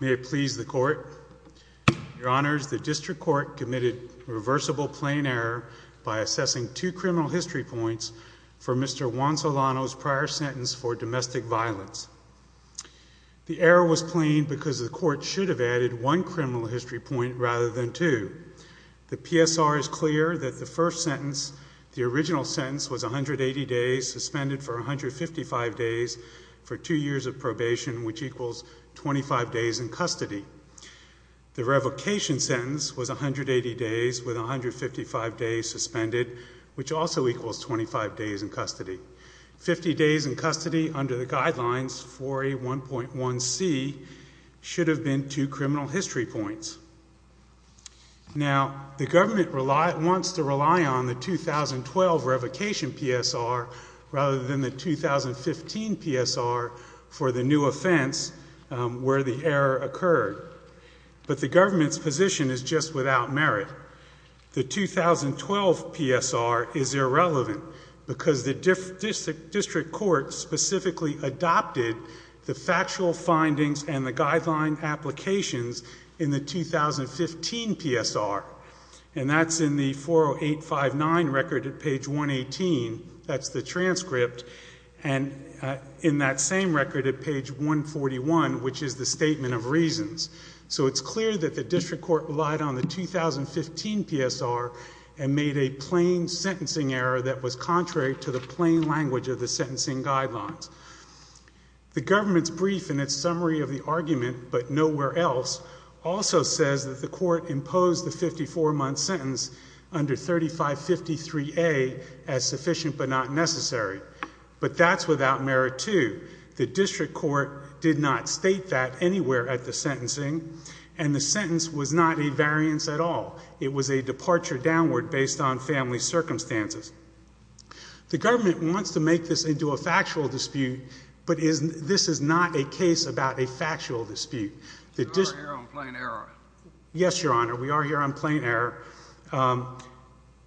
May it please the court. Your honors, the district court committed reversible plain error by assessing two criminal history points for Mr. Juan-Solano's prior sentence for domestic violence. The error was plain because the court should have added one criminal history point rather than two. The PSR is clear that the first sentence, the original sentence, was 180 days suspended for 155 days for two years of probation, which equals 25 days in custody. The revocation sentence was 180 days with 155 days suspended, which also equals 25 days in custody. Fifty days in custody under the guidelines 4A1.1C should have been two criminal history points. Now, the government wants to rely on the 2012 revocation PSR rather than the 2015 PSR for the new offense where the error occurred. But the government's position is just without merit. The 2012 PSR is irrelevant because the district court specifically adopted the factual findings and the guideline applications in the 2015 PSR. And that's in the 40859 record at page 118. That's the transcript. And in that same record at page 141, which is the statement of reasons. So it's clear that the district court relied on the 2015 PSR and made a plain sentencing error that was contrary to the plain language of the sentencing guidelines. The government's brief in its summary of the argument, but nowhere else, also says that the court imposed the 54-month sentence under 3553A as sufficient but not necessary. But that's without merit, too. The district court did not state that anywhere at the sentencing, and the sentence was not a variance at all. It was a departure downward based on family circumstances. The government wants to make this into a factual dispute, but this is not a case about a factual dispute. So we're here on plain error? Yes, Your Honor. We are here on plain error.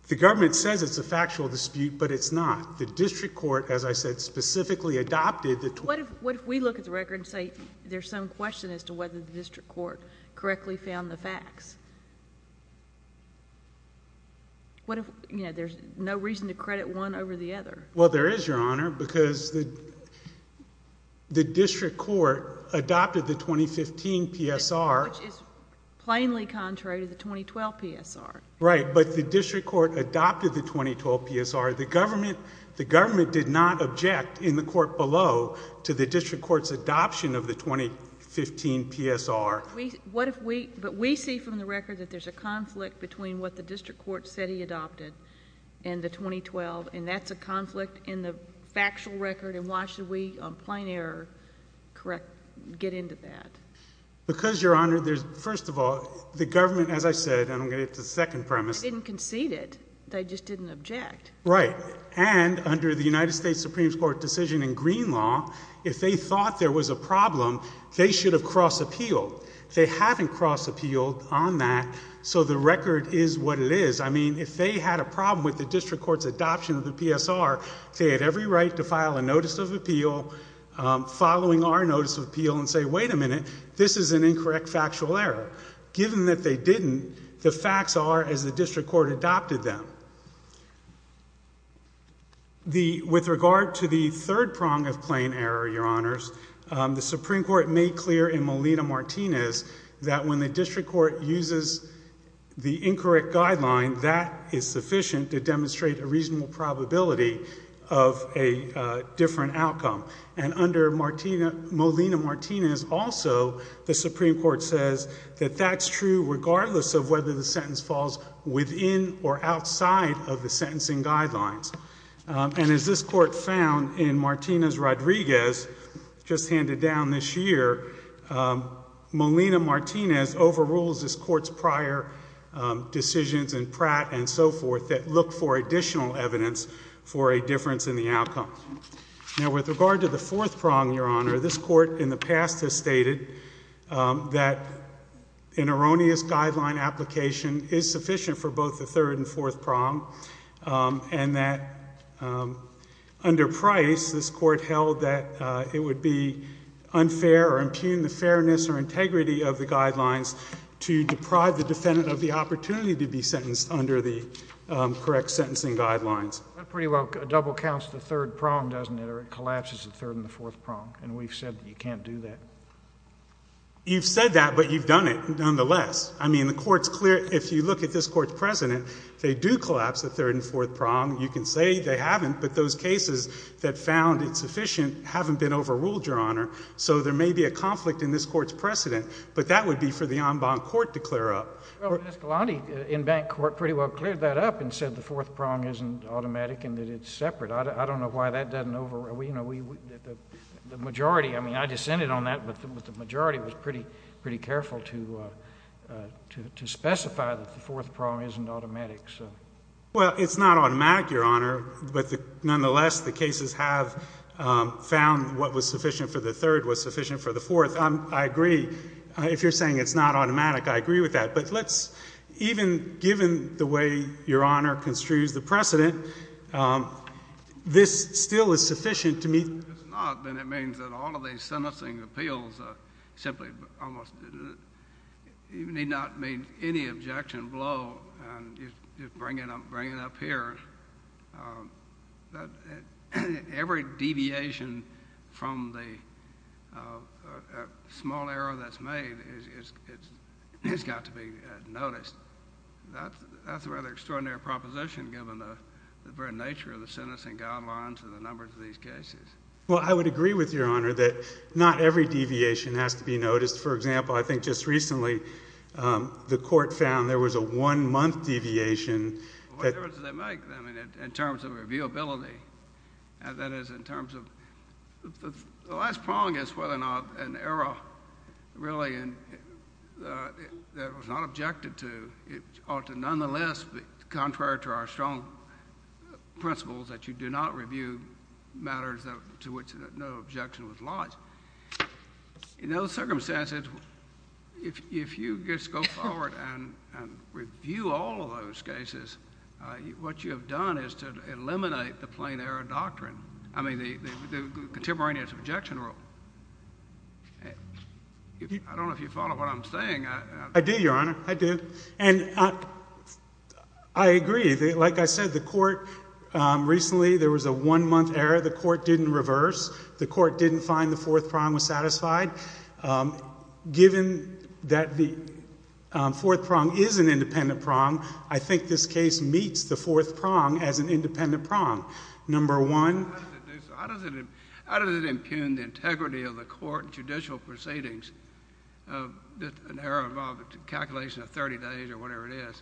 The government says it's a factual dispute, but it's not. The district court, as I said, specifically adopted the... What if we look at the record and say there's some question as to whether the district court correctly found the facts? There's no reason to credit one over the other. Well, there is, Your Honor, because the district court adopted the 2015 PSR... Which is plainly contrary to the 2012 PSR. Right, but the district court adopted the 2012 PSR. The government did not object in the court below to the district court's adoption of the 2015 PSR. But we see from the record that there's a conflict between what the district court said he adopted and the 2012, and that's a conflict in the factual record, and why should we on plain error get into that? Because, Your Honor, first of all, the government, as I said, and I'm going to get to the second premise... They didn't concede it. They just didn't object. Right, and under the United States Supreme Court decision in green law, if they thought there was a problem, they should have cross appealed. They haven't cross appealed on that, so the record is what it is. I mean, if they had a problem with the district court's adoption of the PSR, they had every right to file a notice of appeal, following our notice of appeal, and say, wait a minute, this is an incorrect factual error. Given that they didn't, the facts are as the district court adopted them. With regard to the third prong of plain error, Your Honors, the Supreme Court made clear in Molina-Martinez that when the district court uses the incorrect guideline, that is sufficient to demonstrate a reasonable probability of a different outcome, and under Molina-Martinez also, the Supreme Court says that that's true regardless of whether the sentence falls within or outside of the sentencing guidelines. And as this court found in Martinez-Rodriguez, just handed down this year, Molina-Martinez overrules this court's prior decisions in Pratt and so forth that look for additional evidence for a difference in the outcome. Now with regard to the fourth prong, Your Honor, this court in the past has stated that an erroneous guideline application is sufficient for both the third and fourth prong, and that under Price, this court held that it would be unfair or impugn the fairness or integrity of the guidelines to deprive the defendant of the opportunity to be sentenced under the correct sentencing guidelines. That pretty well double counts the third prong, doesn't it, or it collapses the third and the fourth prong, and we've said that you can't do that. You've said that, but you've done it nonetheless. I mean, the court's clear, if you look at this court's precedent, they do collapse the third and fourth prong. You can say they haven't, but those cases that found it sufficient haven't been overruled, so there may be a conflict in this court's precedent, but that would be for the en banc court to clear up. Well, Escalante, in bank court, pretty well cleared that up and said the fourth prong isn't automatic and that it's separate. I don't know why that doesn't overrule. The majority, I mean, I dissented on that, but the majority was pretty careful to specify that the fourth prong isn't automatic. Well, it's not automatic, Your Honor, but nonetheless the cases have found what was sufficient for the third was sufficient for the fourth. I agree. If you're saying it's not automatic, I agree with that, but let's, even given the way Your Honor construes the precedent, this still is sufficient to meet. It's not, but it means that all of these sentencing appeals simply almost didn't, you need not make any objection below and just bring it up here. Every deviation from the small error that's made has got to be noticed. That's a rather extraordinary proposition, given the very nature of the sentencing guidelines and the numbers of these cases. Well, I would agree with Your Honor that not every deviation has to be noticed. For example, I think just recently the court found there was a one-month deviation. What difference does that make in terms of reviewability? That is, in terms of, the last prong is whether or not an error really that was not objected to ought to nonetheless be contrary to our strong principles that you do not review matters to which no objection was lodged. In those circumstances, if you just go forward and review all of those cases, what you have done is to eliminate the plain error doctrine. I mean, the contemporaneous objection rule. I don't know if you follow what I'm saying. I do, Your Honor, I do. And I agree, like I said, the court, recently there was a one-month error. The court didn't reverse. The court didn't find the fourth prong was satisfied. Given that the fourth prong is an independent prong, I think this case meets the fourth prong as an independent prong. Number one, How does it impugn the integrity of the court and judicial proceedings of an error involving a calculation of 30 days or whatever it is?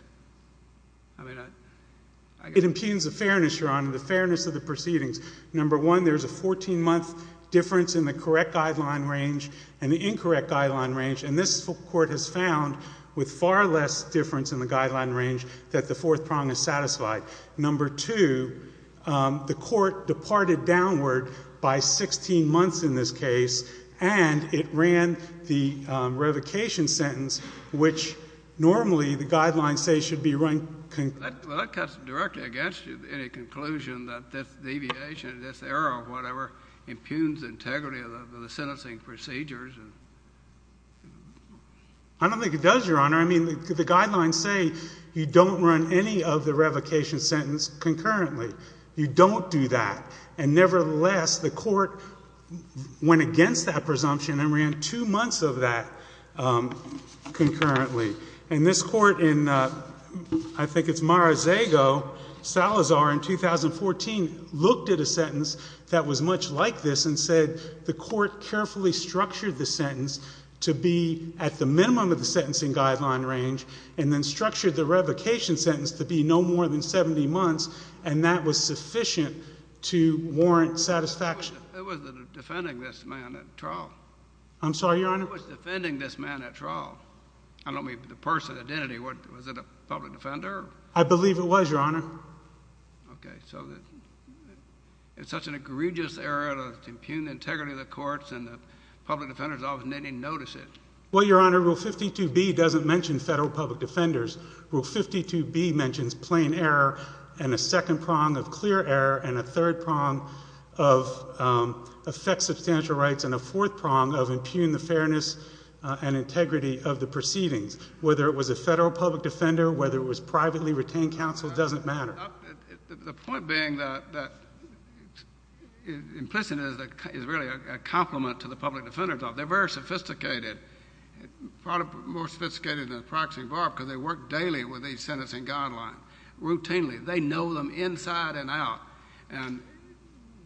It impugns the fairness, Your Honor, the fairness of the proceedings. Number one, there's a 14-month difference in the correct guideline range and the incorrect guideline range. And this court has found with far less difference in the guideline range that the fourth prong is satisfied. Number two, the court departed downward by 16 months in this case and it ran the revocation sentence, which normally the guidelines say should be run. That cuts directly against you, any conclusion that this deviation, this error or whatever, impugns integrity of the sentencing procedures. I don't think it does, Your Honor. I mean, the guidelines say you don't run any of the revocation sentence concurrently. You don't do that. And nevertheless, the court went against that presumption and ran two months of that concurrently. And this court in, I think it's Mar-a-Zago, Salazar in 2014, looked at a sentence that was much like this and said the court carefully structured the sentence to be at the minimum of the sentencing guideline range and then structured the revocation sentence to be no more than 70 months and that was sufficient to warrant satisfaction. Who was defending this man at trial? I'm sorry, Your Honor? Who was defending this man at trial? I don't mean the person, identity. Was it a public defender? I believe it was, Your Honor. Okay, so it's such an egregious error to impugn integrity of the courts and the public defender's office didn't even notice it. Well, Your Honor, Rule 52B doesn't mention federal public defenders. Rule 52B mentions plain error and a second prong of clear error and a third prong of affect substantial rights and a fourth prong of impugn the fairness and integrity of the proceedings. Whether it was a federal public defender, whether it was privately retained counsel doesn't matter. The point being that implicit is really a compliment to the public defender's office. They're very sophisticated, probably more sophisticated than the practicing barb because they work daily with these sentencing guidelines, routinely. They know them inside and out. And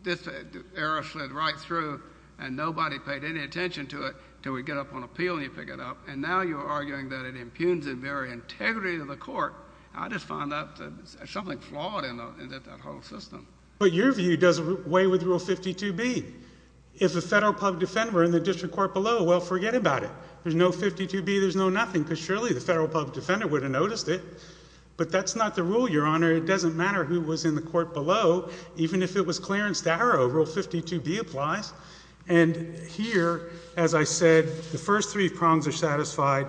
this error slid right through and nobody paid any attention to it until we get up on appeal and you pick it up. And now you're arguing that it impugns the very integrity of the court. I just find that something flawed in that whole system. But your view doesn't weigh with Rule 52B. If a federal public defender were in the district court below, well, forget about it. There's no 52B, there's no nothing because surely the federal public defender would have noticed it. But that's not the rule, Your Honor. It doesn't matter who was in the court below. Even if it was Clarence Darrow, Rule 52B applies. And here, as I said, the first three prongs are satisfied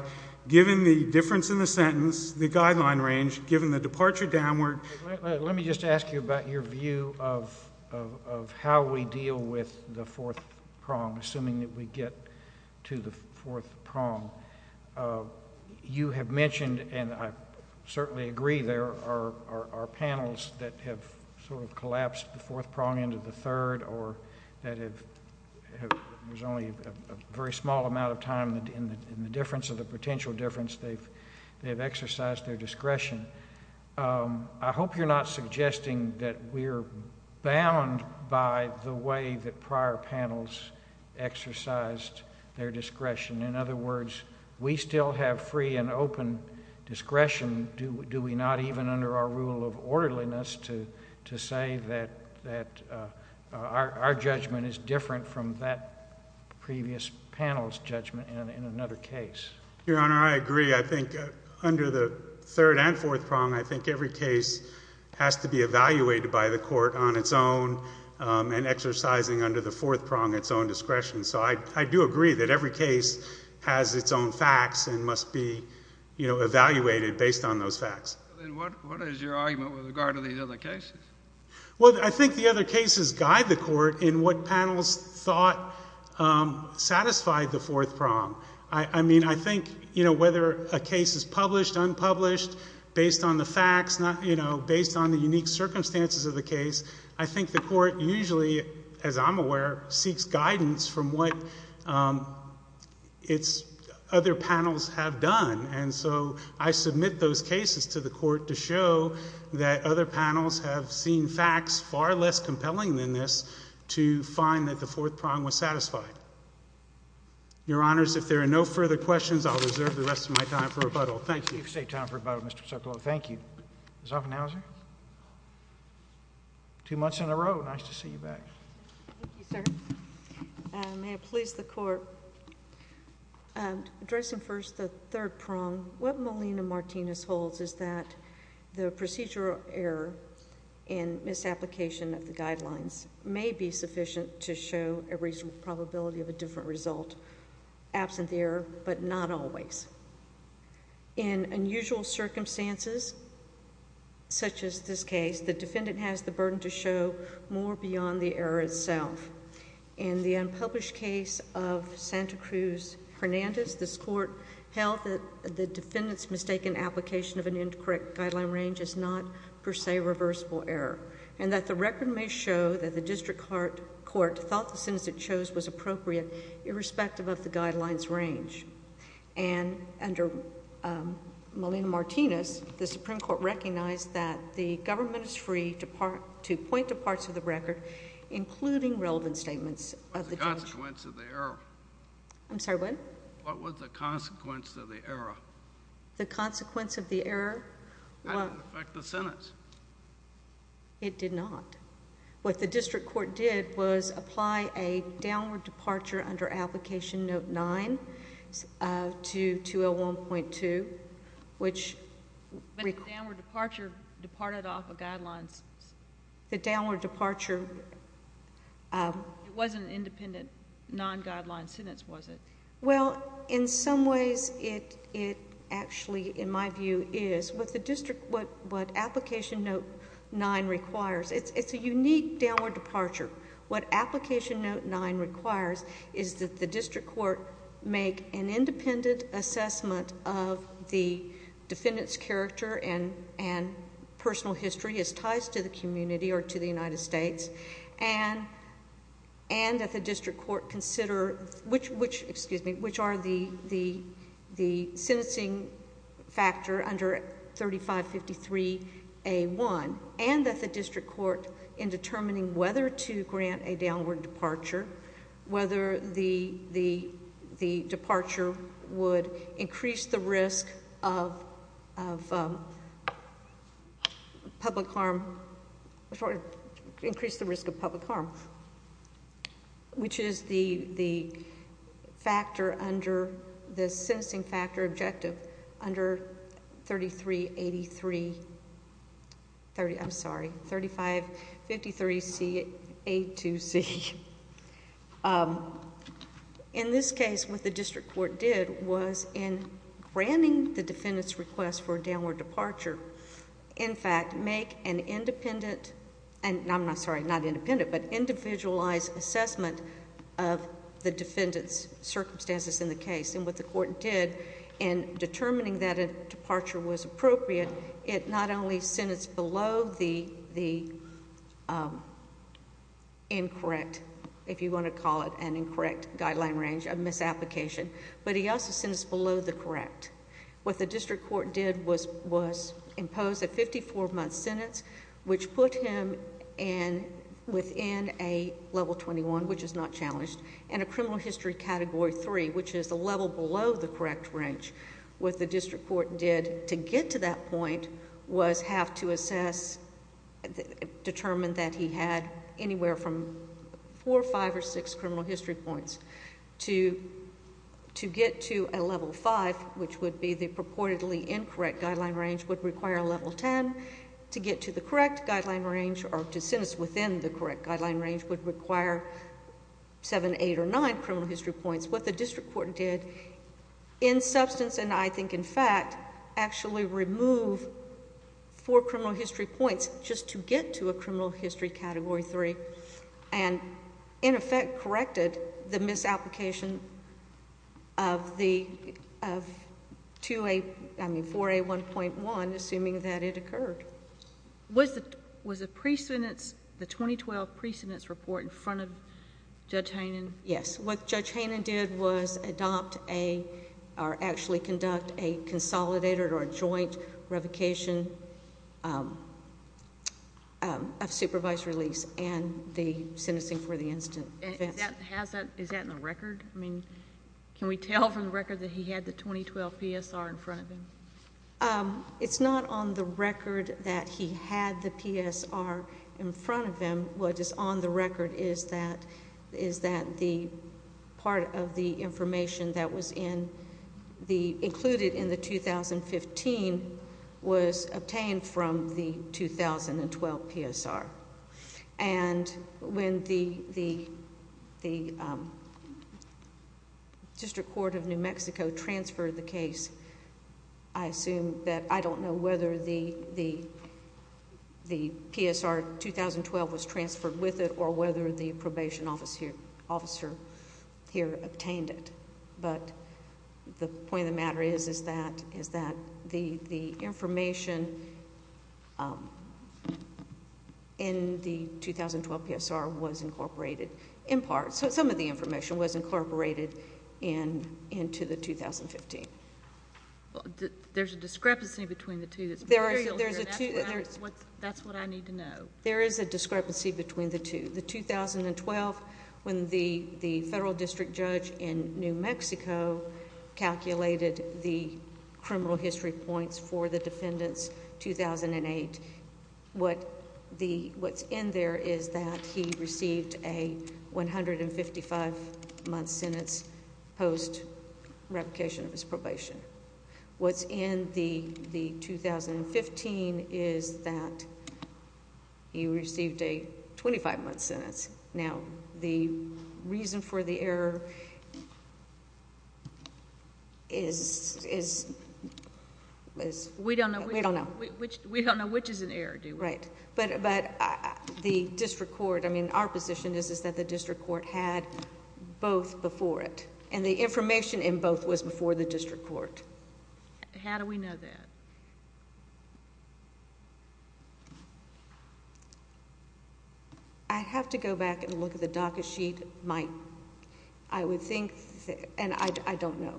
given the difference in the sentence, the guideline range, given the departure downward. Let me just ask you about your view of how we deal with the fourth prong, assuming that we get to the fourth prong. You have mentioned, and I certainly agree, there are panels that have sort of collapsed the fourth prong into the third or that there's only a very small amount of time in the difference of the potential difference they've exercised their discretion. I hope you're not suggesting that we're bound by the way that prior panels exercised their discretion. In other words, we still have free and open discretion. Do we not even under our rule of orderliness to say that our judgment is different from that previous panel's judgment in another case? Your Honor, I agree. I think under the third and fourth prong, I think every case has to be evaluated by the court on its own and exercising under the fourth prong its own discretion. So I do agree that every case has its own facts and must be evaluated based on those facts. Then what is your argument with regard to these other cases? Well, I think the other cases guide the court in what panels thought satisfied the fourth prong. I mean, I think whether a case is published, unpublished, based on the facts, based on the unique circumstances of the case, I think the court usually, as I'm aware, seeks guidance from what its other panels have done. And so I submit those cases to the court to show that other panels have seen facts far less compelling than this to find that the fourth prong was satisfied. Your Honors, if there are no further questions, I'll reserve the rest of my time for rebuttal. Thank you. You've saved time for rebuttal, Mr. Sokolow. Thank you. Ms. Offenhauser? Two months in a row. Nice to see you back. Thank you, sir. May it please the Court. Addressing first the third prong, what Molina-Martinez holds is that the procedural error in misapplication of the guidelines may be sufficient to show a reasonable probability of a different result absent the error, but not always. In unusual circumstances, such as this case, the defendant has the burden to show more beyond the error itself. In the unpublished case of Santa Cruz-Hernandez, this Court held that the defendant's mistaken application of an incorrect guideline range is not, per se, a reversible error, and that the record may show that the district court thought the sentence it chose was appropriate irrespective of the guideline's range. And under Molina-Martinez, the Supreme Court recognized that the government is free to point to parts of the record, including relevant statements of the judge. What was the consequence of the error? I'm sorry, what? What was the consequence of the error? The consequence of the error? How did it affect the sentence? It did not. What the district court did was apply a downward departure under Application Note 9 to 201.2, which... The downward departure departed off a guideline... The downward departure... It wasn't an independent, non-guideline sentence, was it? Well, in some ways, it actually, in my view, is. What the district... what Application Note 9 requires... It's a unique downward departure. What Application Note 9 requires is that the district court make an independent assessment of the defendant's character and personal history as ties to the community or to the United States and that the district court consider which are the sentencing factor under 3553A1 and that the district court, in determining whether to grant a downward departure, whether the departure would increase the risk of public harm... increase the risk of public harm, which is the factor under... the sentencing factor objective under 3383... I'm sorry, 3553A2C. In this case, what the district court did was in granting the defendant's request for a downward departure, in fact, make an independent... I'm sorry, not independent, but individualized assessment of the defendant's circumstances in the case. And what the court did in determining that a departure was appropriate, it not only sentenced below the incorrect, if you want to call it an incorrect, guideline range of misapplication, but he also sentenced below the correct. What the district court did was impose a 54-month sentence which put him within a level 21, which is not challenged, and a criminal history category 3, which is the level below the correct range. What the district court did to get to that point was have to assess... determine that he had anywhere from 4, 5, or 6 criminal history points to get to a level 5, which would be the purportedly incorrect guideline range, would require a level 10. To get to the correct guideline range or to sentence within the correct guideline range would require 7, 8, or 9 criminal history points. What the district court did, in substance and I think in fact, actually remove 4 criminal history points just to get to a criminal history category 3 and in effect corrected the misapplication of 4A1.1, assuming that it occurred. Was the 2012 pre-sentence report in front of Judge Hannon? Yes. What Judge Hannon did was adopt or actually conduct a consolidated or joint revocation of supervised release and the sentencing for the instant offense. Is that in the record? Can we tell from the record that he had the 2012 PSR in front of him? It's not on the record that he had the PSR in front of him. What is on the record is that the part of the information that was included in the 2015 was obtained from the 2012 PSR. When the District Court of New Mexico transferred the case, I assume that I don't know whether the PSR 2012 was transferred with it or whether the probation officer here obtained it. But the point of the matter is that the information in the 2012 PSR was incorporated in part. Some of the information was incorporated into the 2015. There's a discrepancy between the two. That's what I need to know. There is a discrepancy between the two. The 2012, when the federal district judge in New Mexico calculated the criminal history points for the defendants, 2008, what's in there is that he received a 155-month sentence post-replication of his probation. What's in the 2015 is that he received a 25-month sentence. Now, the reason for the error is... We don't know which is an error, do we? Right. But the district court, I mean, our position is that the district court had both before it. And the information in both was before the district court. How do we know that? I'd have to go back and look at the docket sheet. I would think, and I don't know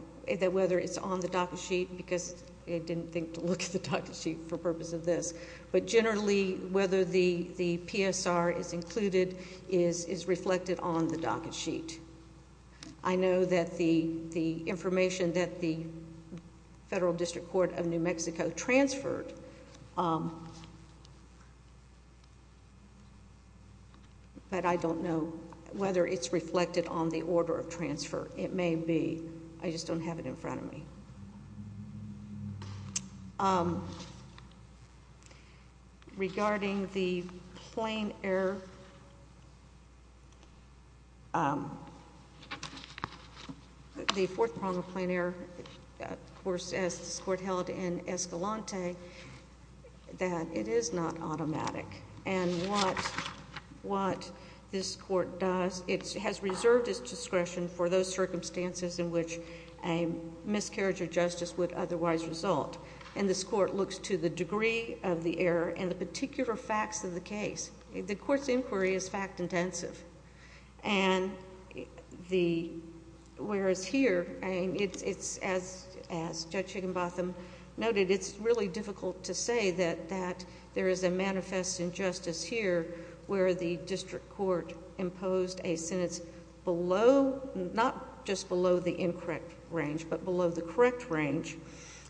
whether it's on the docket sheet because I didn't think to look at the docket sheet for purpose of this. But generally, whether the PSR is included is reflected on the docket sheet. I know that the information that the federal district court of New Mexico transferred, but I don't know whether it's reflected on the order of transfer. It may be. I just don't have it in front of me. Regarding the plane error, the fourth prong of plane error, of course, as this court held in Escalante, that it is not automatic. And what this court does, it has reserved its discretion for those circumstances in which a miscarriage of justice would otherwise result. And this court looks to the degree of the error and the particular facts of the case. The court's inquiry is fact-intensive. And whereas here, as Judge Higginbotham noted, it's really difficult to say that there is a manifest injustice here where the district court imposed a sentence below, not just below the incorrect range, but below the correct range,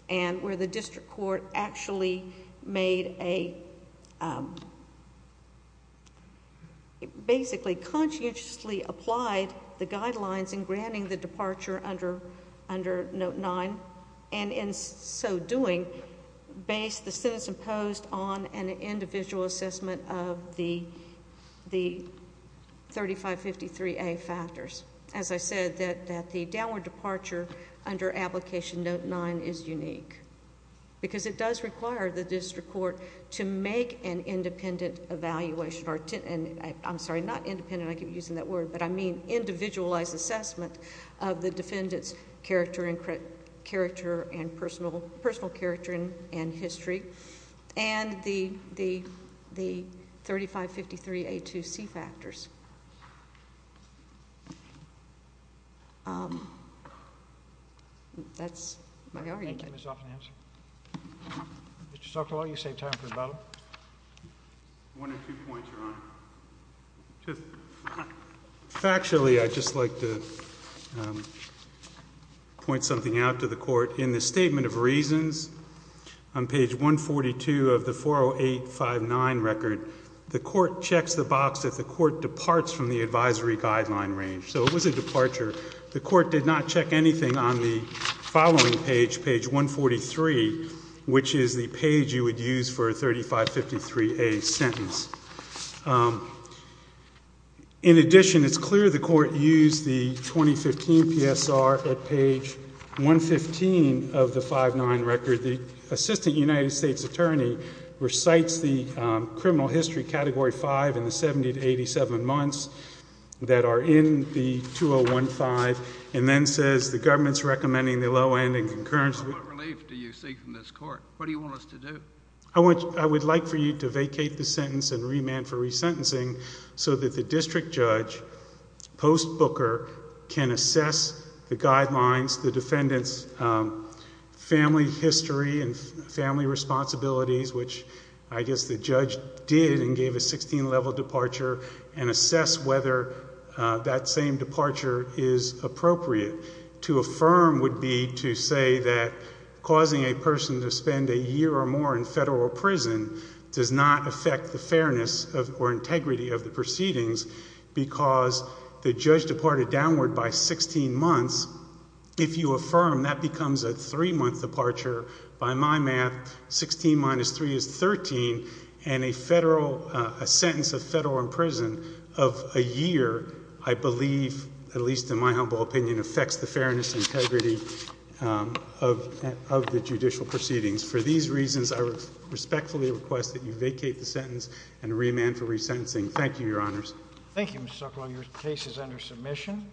and where the district court actually made a, basically conscientiously applied the guidelines in granting the departure under Note 9, and in so doing, based the sentence imposed on an individual assessment of the 3553A factors. As I said, that the downward departure under application Note 9 is unique. Because it does require the district court to make an independent evaluation, I'm sorry, not independent, I keep using that word, but I mean individualized assessment of the defendant's character and personal character and history. And the 3553A2C factors. That's my argument. Thank you, Ms. Offenham. Mr. Sokolow, you saved time for the battle. One or two points, Your Honor. Factually, I'd just like to point something out to the court. In the Statement of Reasons on page 142 of the 40859 record, the court checks the box that the court departs from the advisory guideline range. So it was a departure. The court did not check anything on the following page, page 143, which is the page you would use for a 3553A sentence. In addition, it's clear the court used the 2015 PSR at page 115 of the 509 record. The Assistant United States Attorney recites the criminal history category 5 in the 70-87 months that are in the 2015 and then says the government's recommending the low-end and concurrence... What relief do you seek from this court? What do you want us to do? I would like for you to vacate the sentence and remand for resentencing so that the district judge, post-Booker, can assess the guidelines, the defendant's family history and family responsibilities, which I guess the judge did and gave a 16-level departure and assess whether that same departure is appropriate. To affirm would be to say that causing a person to spend a year or more in federal prison does not affect the fairness or integrity of the proceedings because the judge departed downward by 16 months. If you affirm, that becomes a 3-month departure by my math. 16 minus 3 is 13. A sentence of federal imprisonment of a year I believe, at least in my humble opinion, affects the fairness and integrity of the judicial proceedings. For these reasons, I respectfully request that you vacate the sentence and remand for resentencing. Thank you, Your Honors. Thank you, Mr. Zuckerberg. Your case is under submission.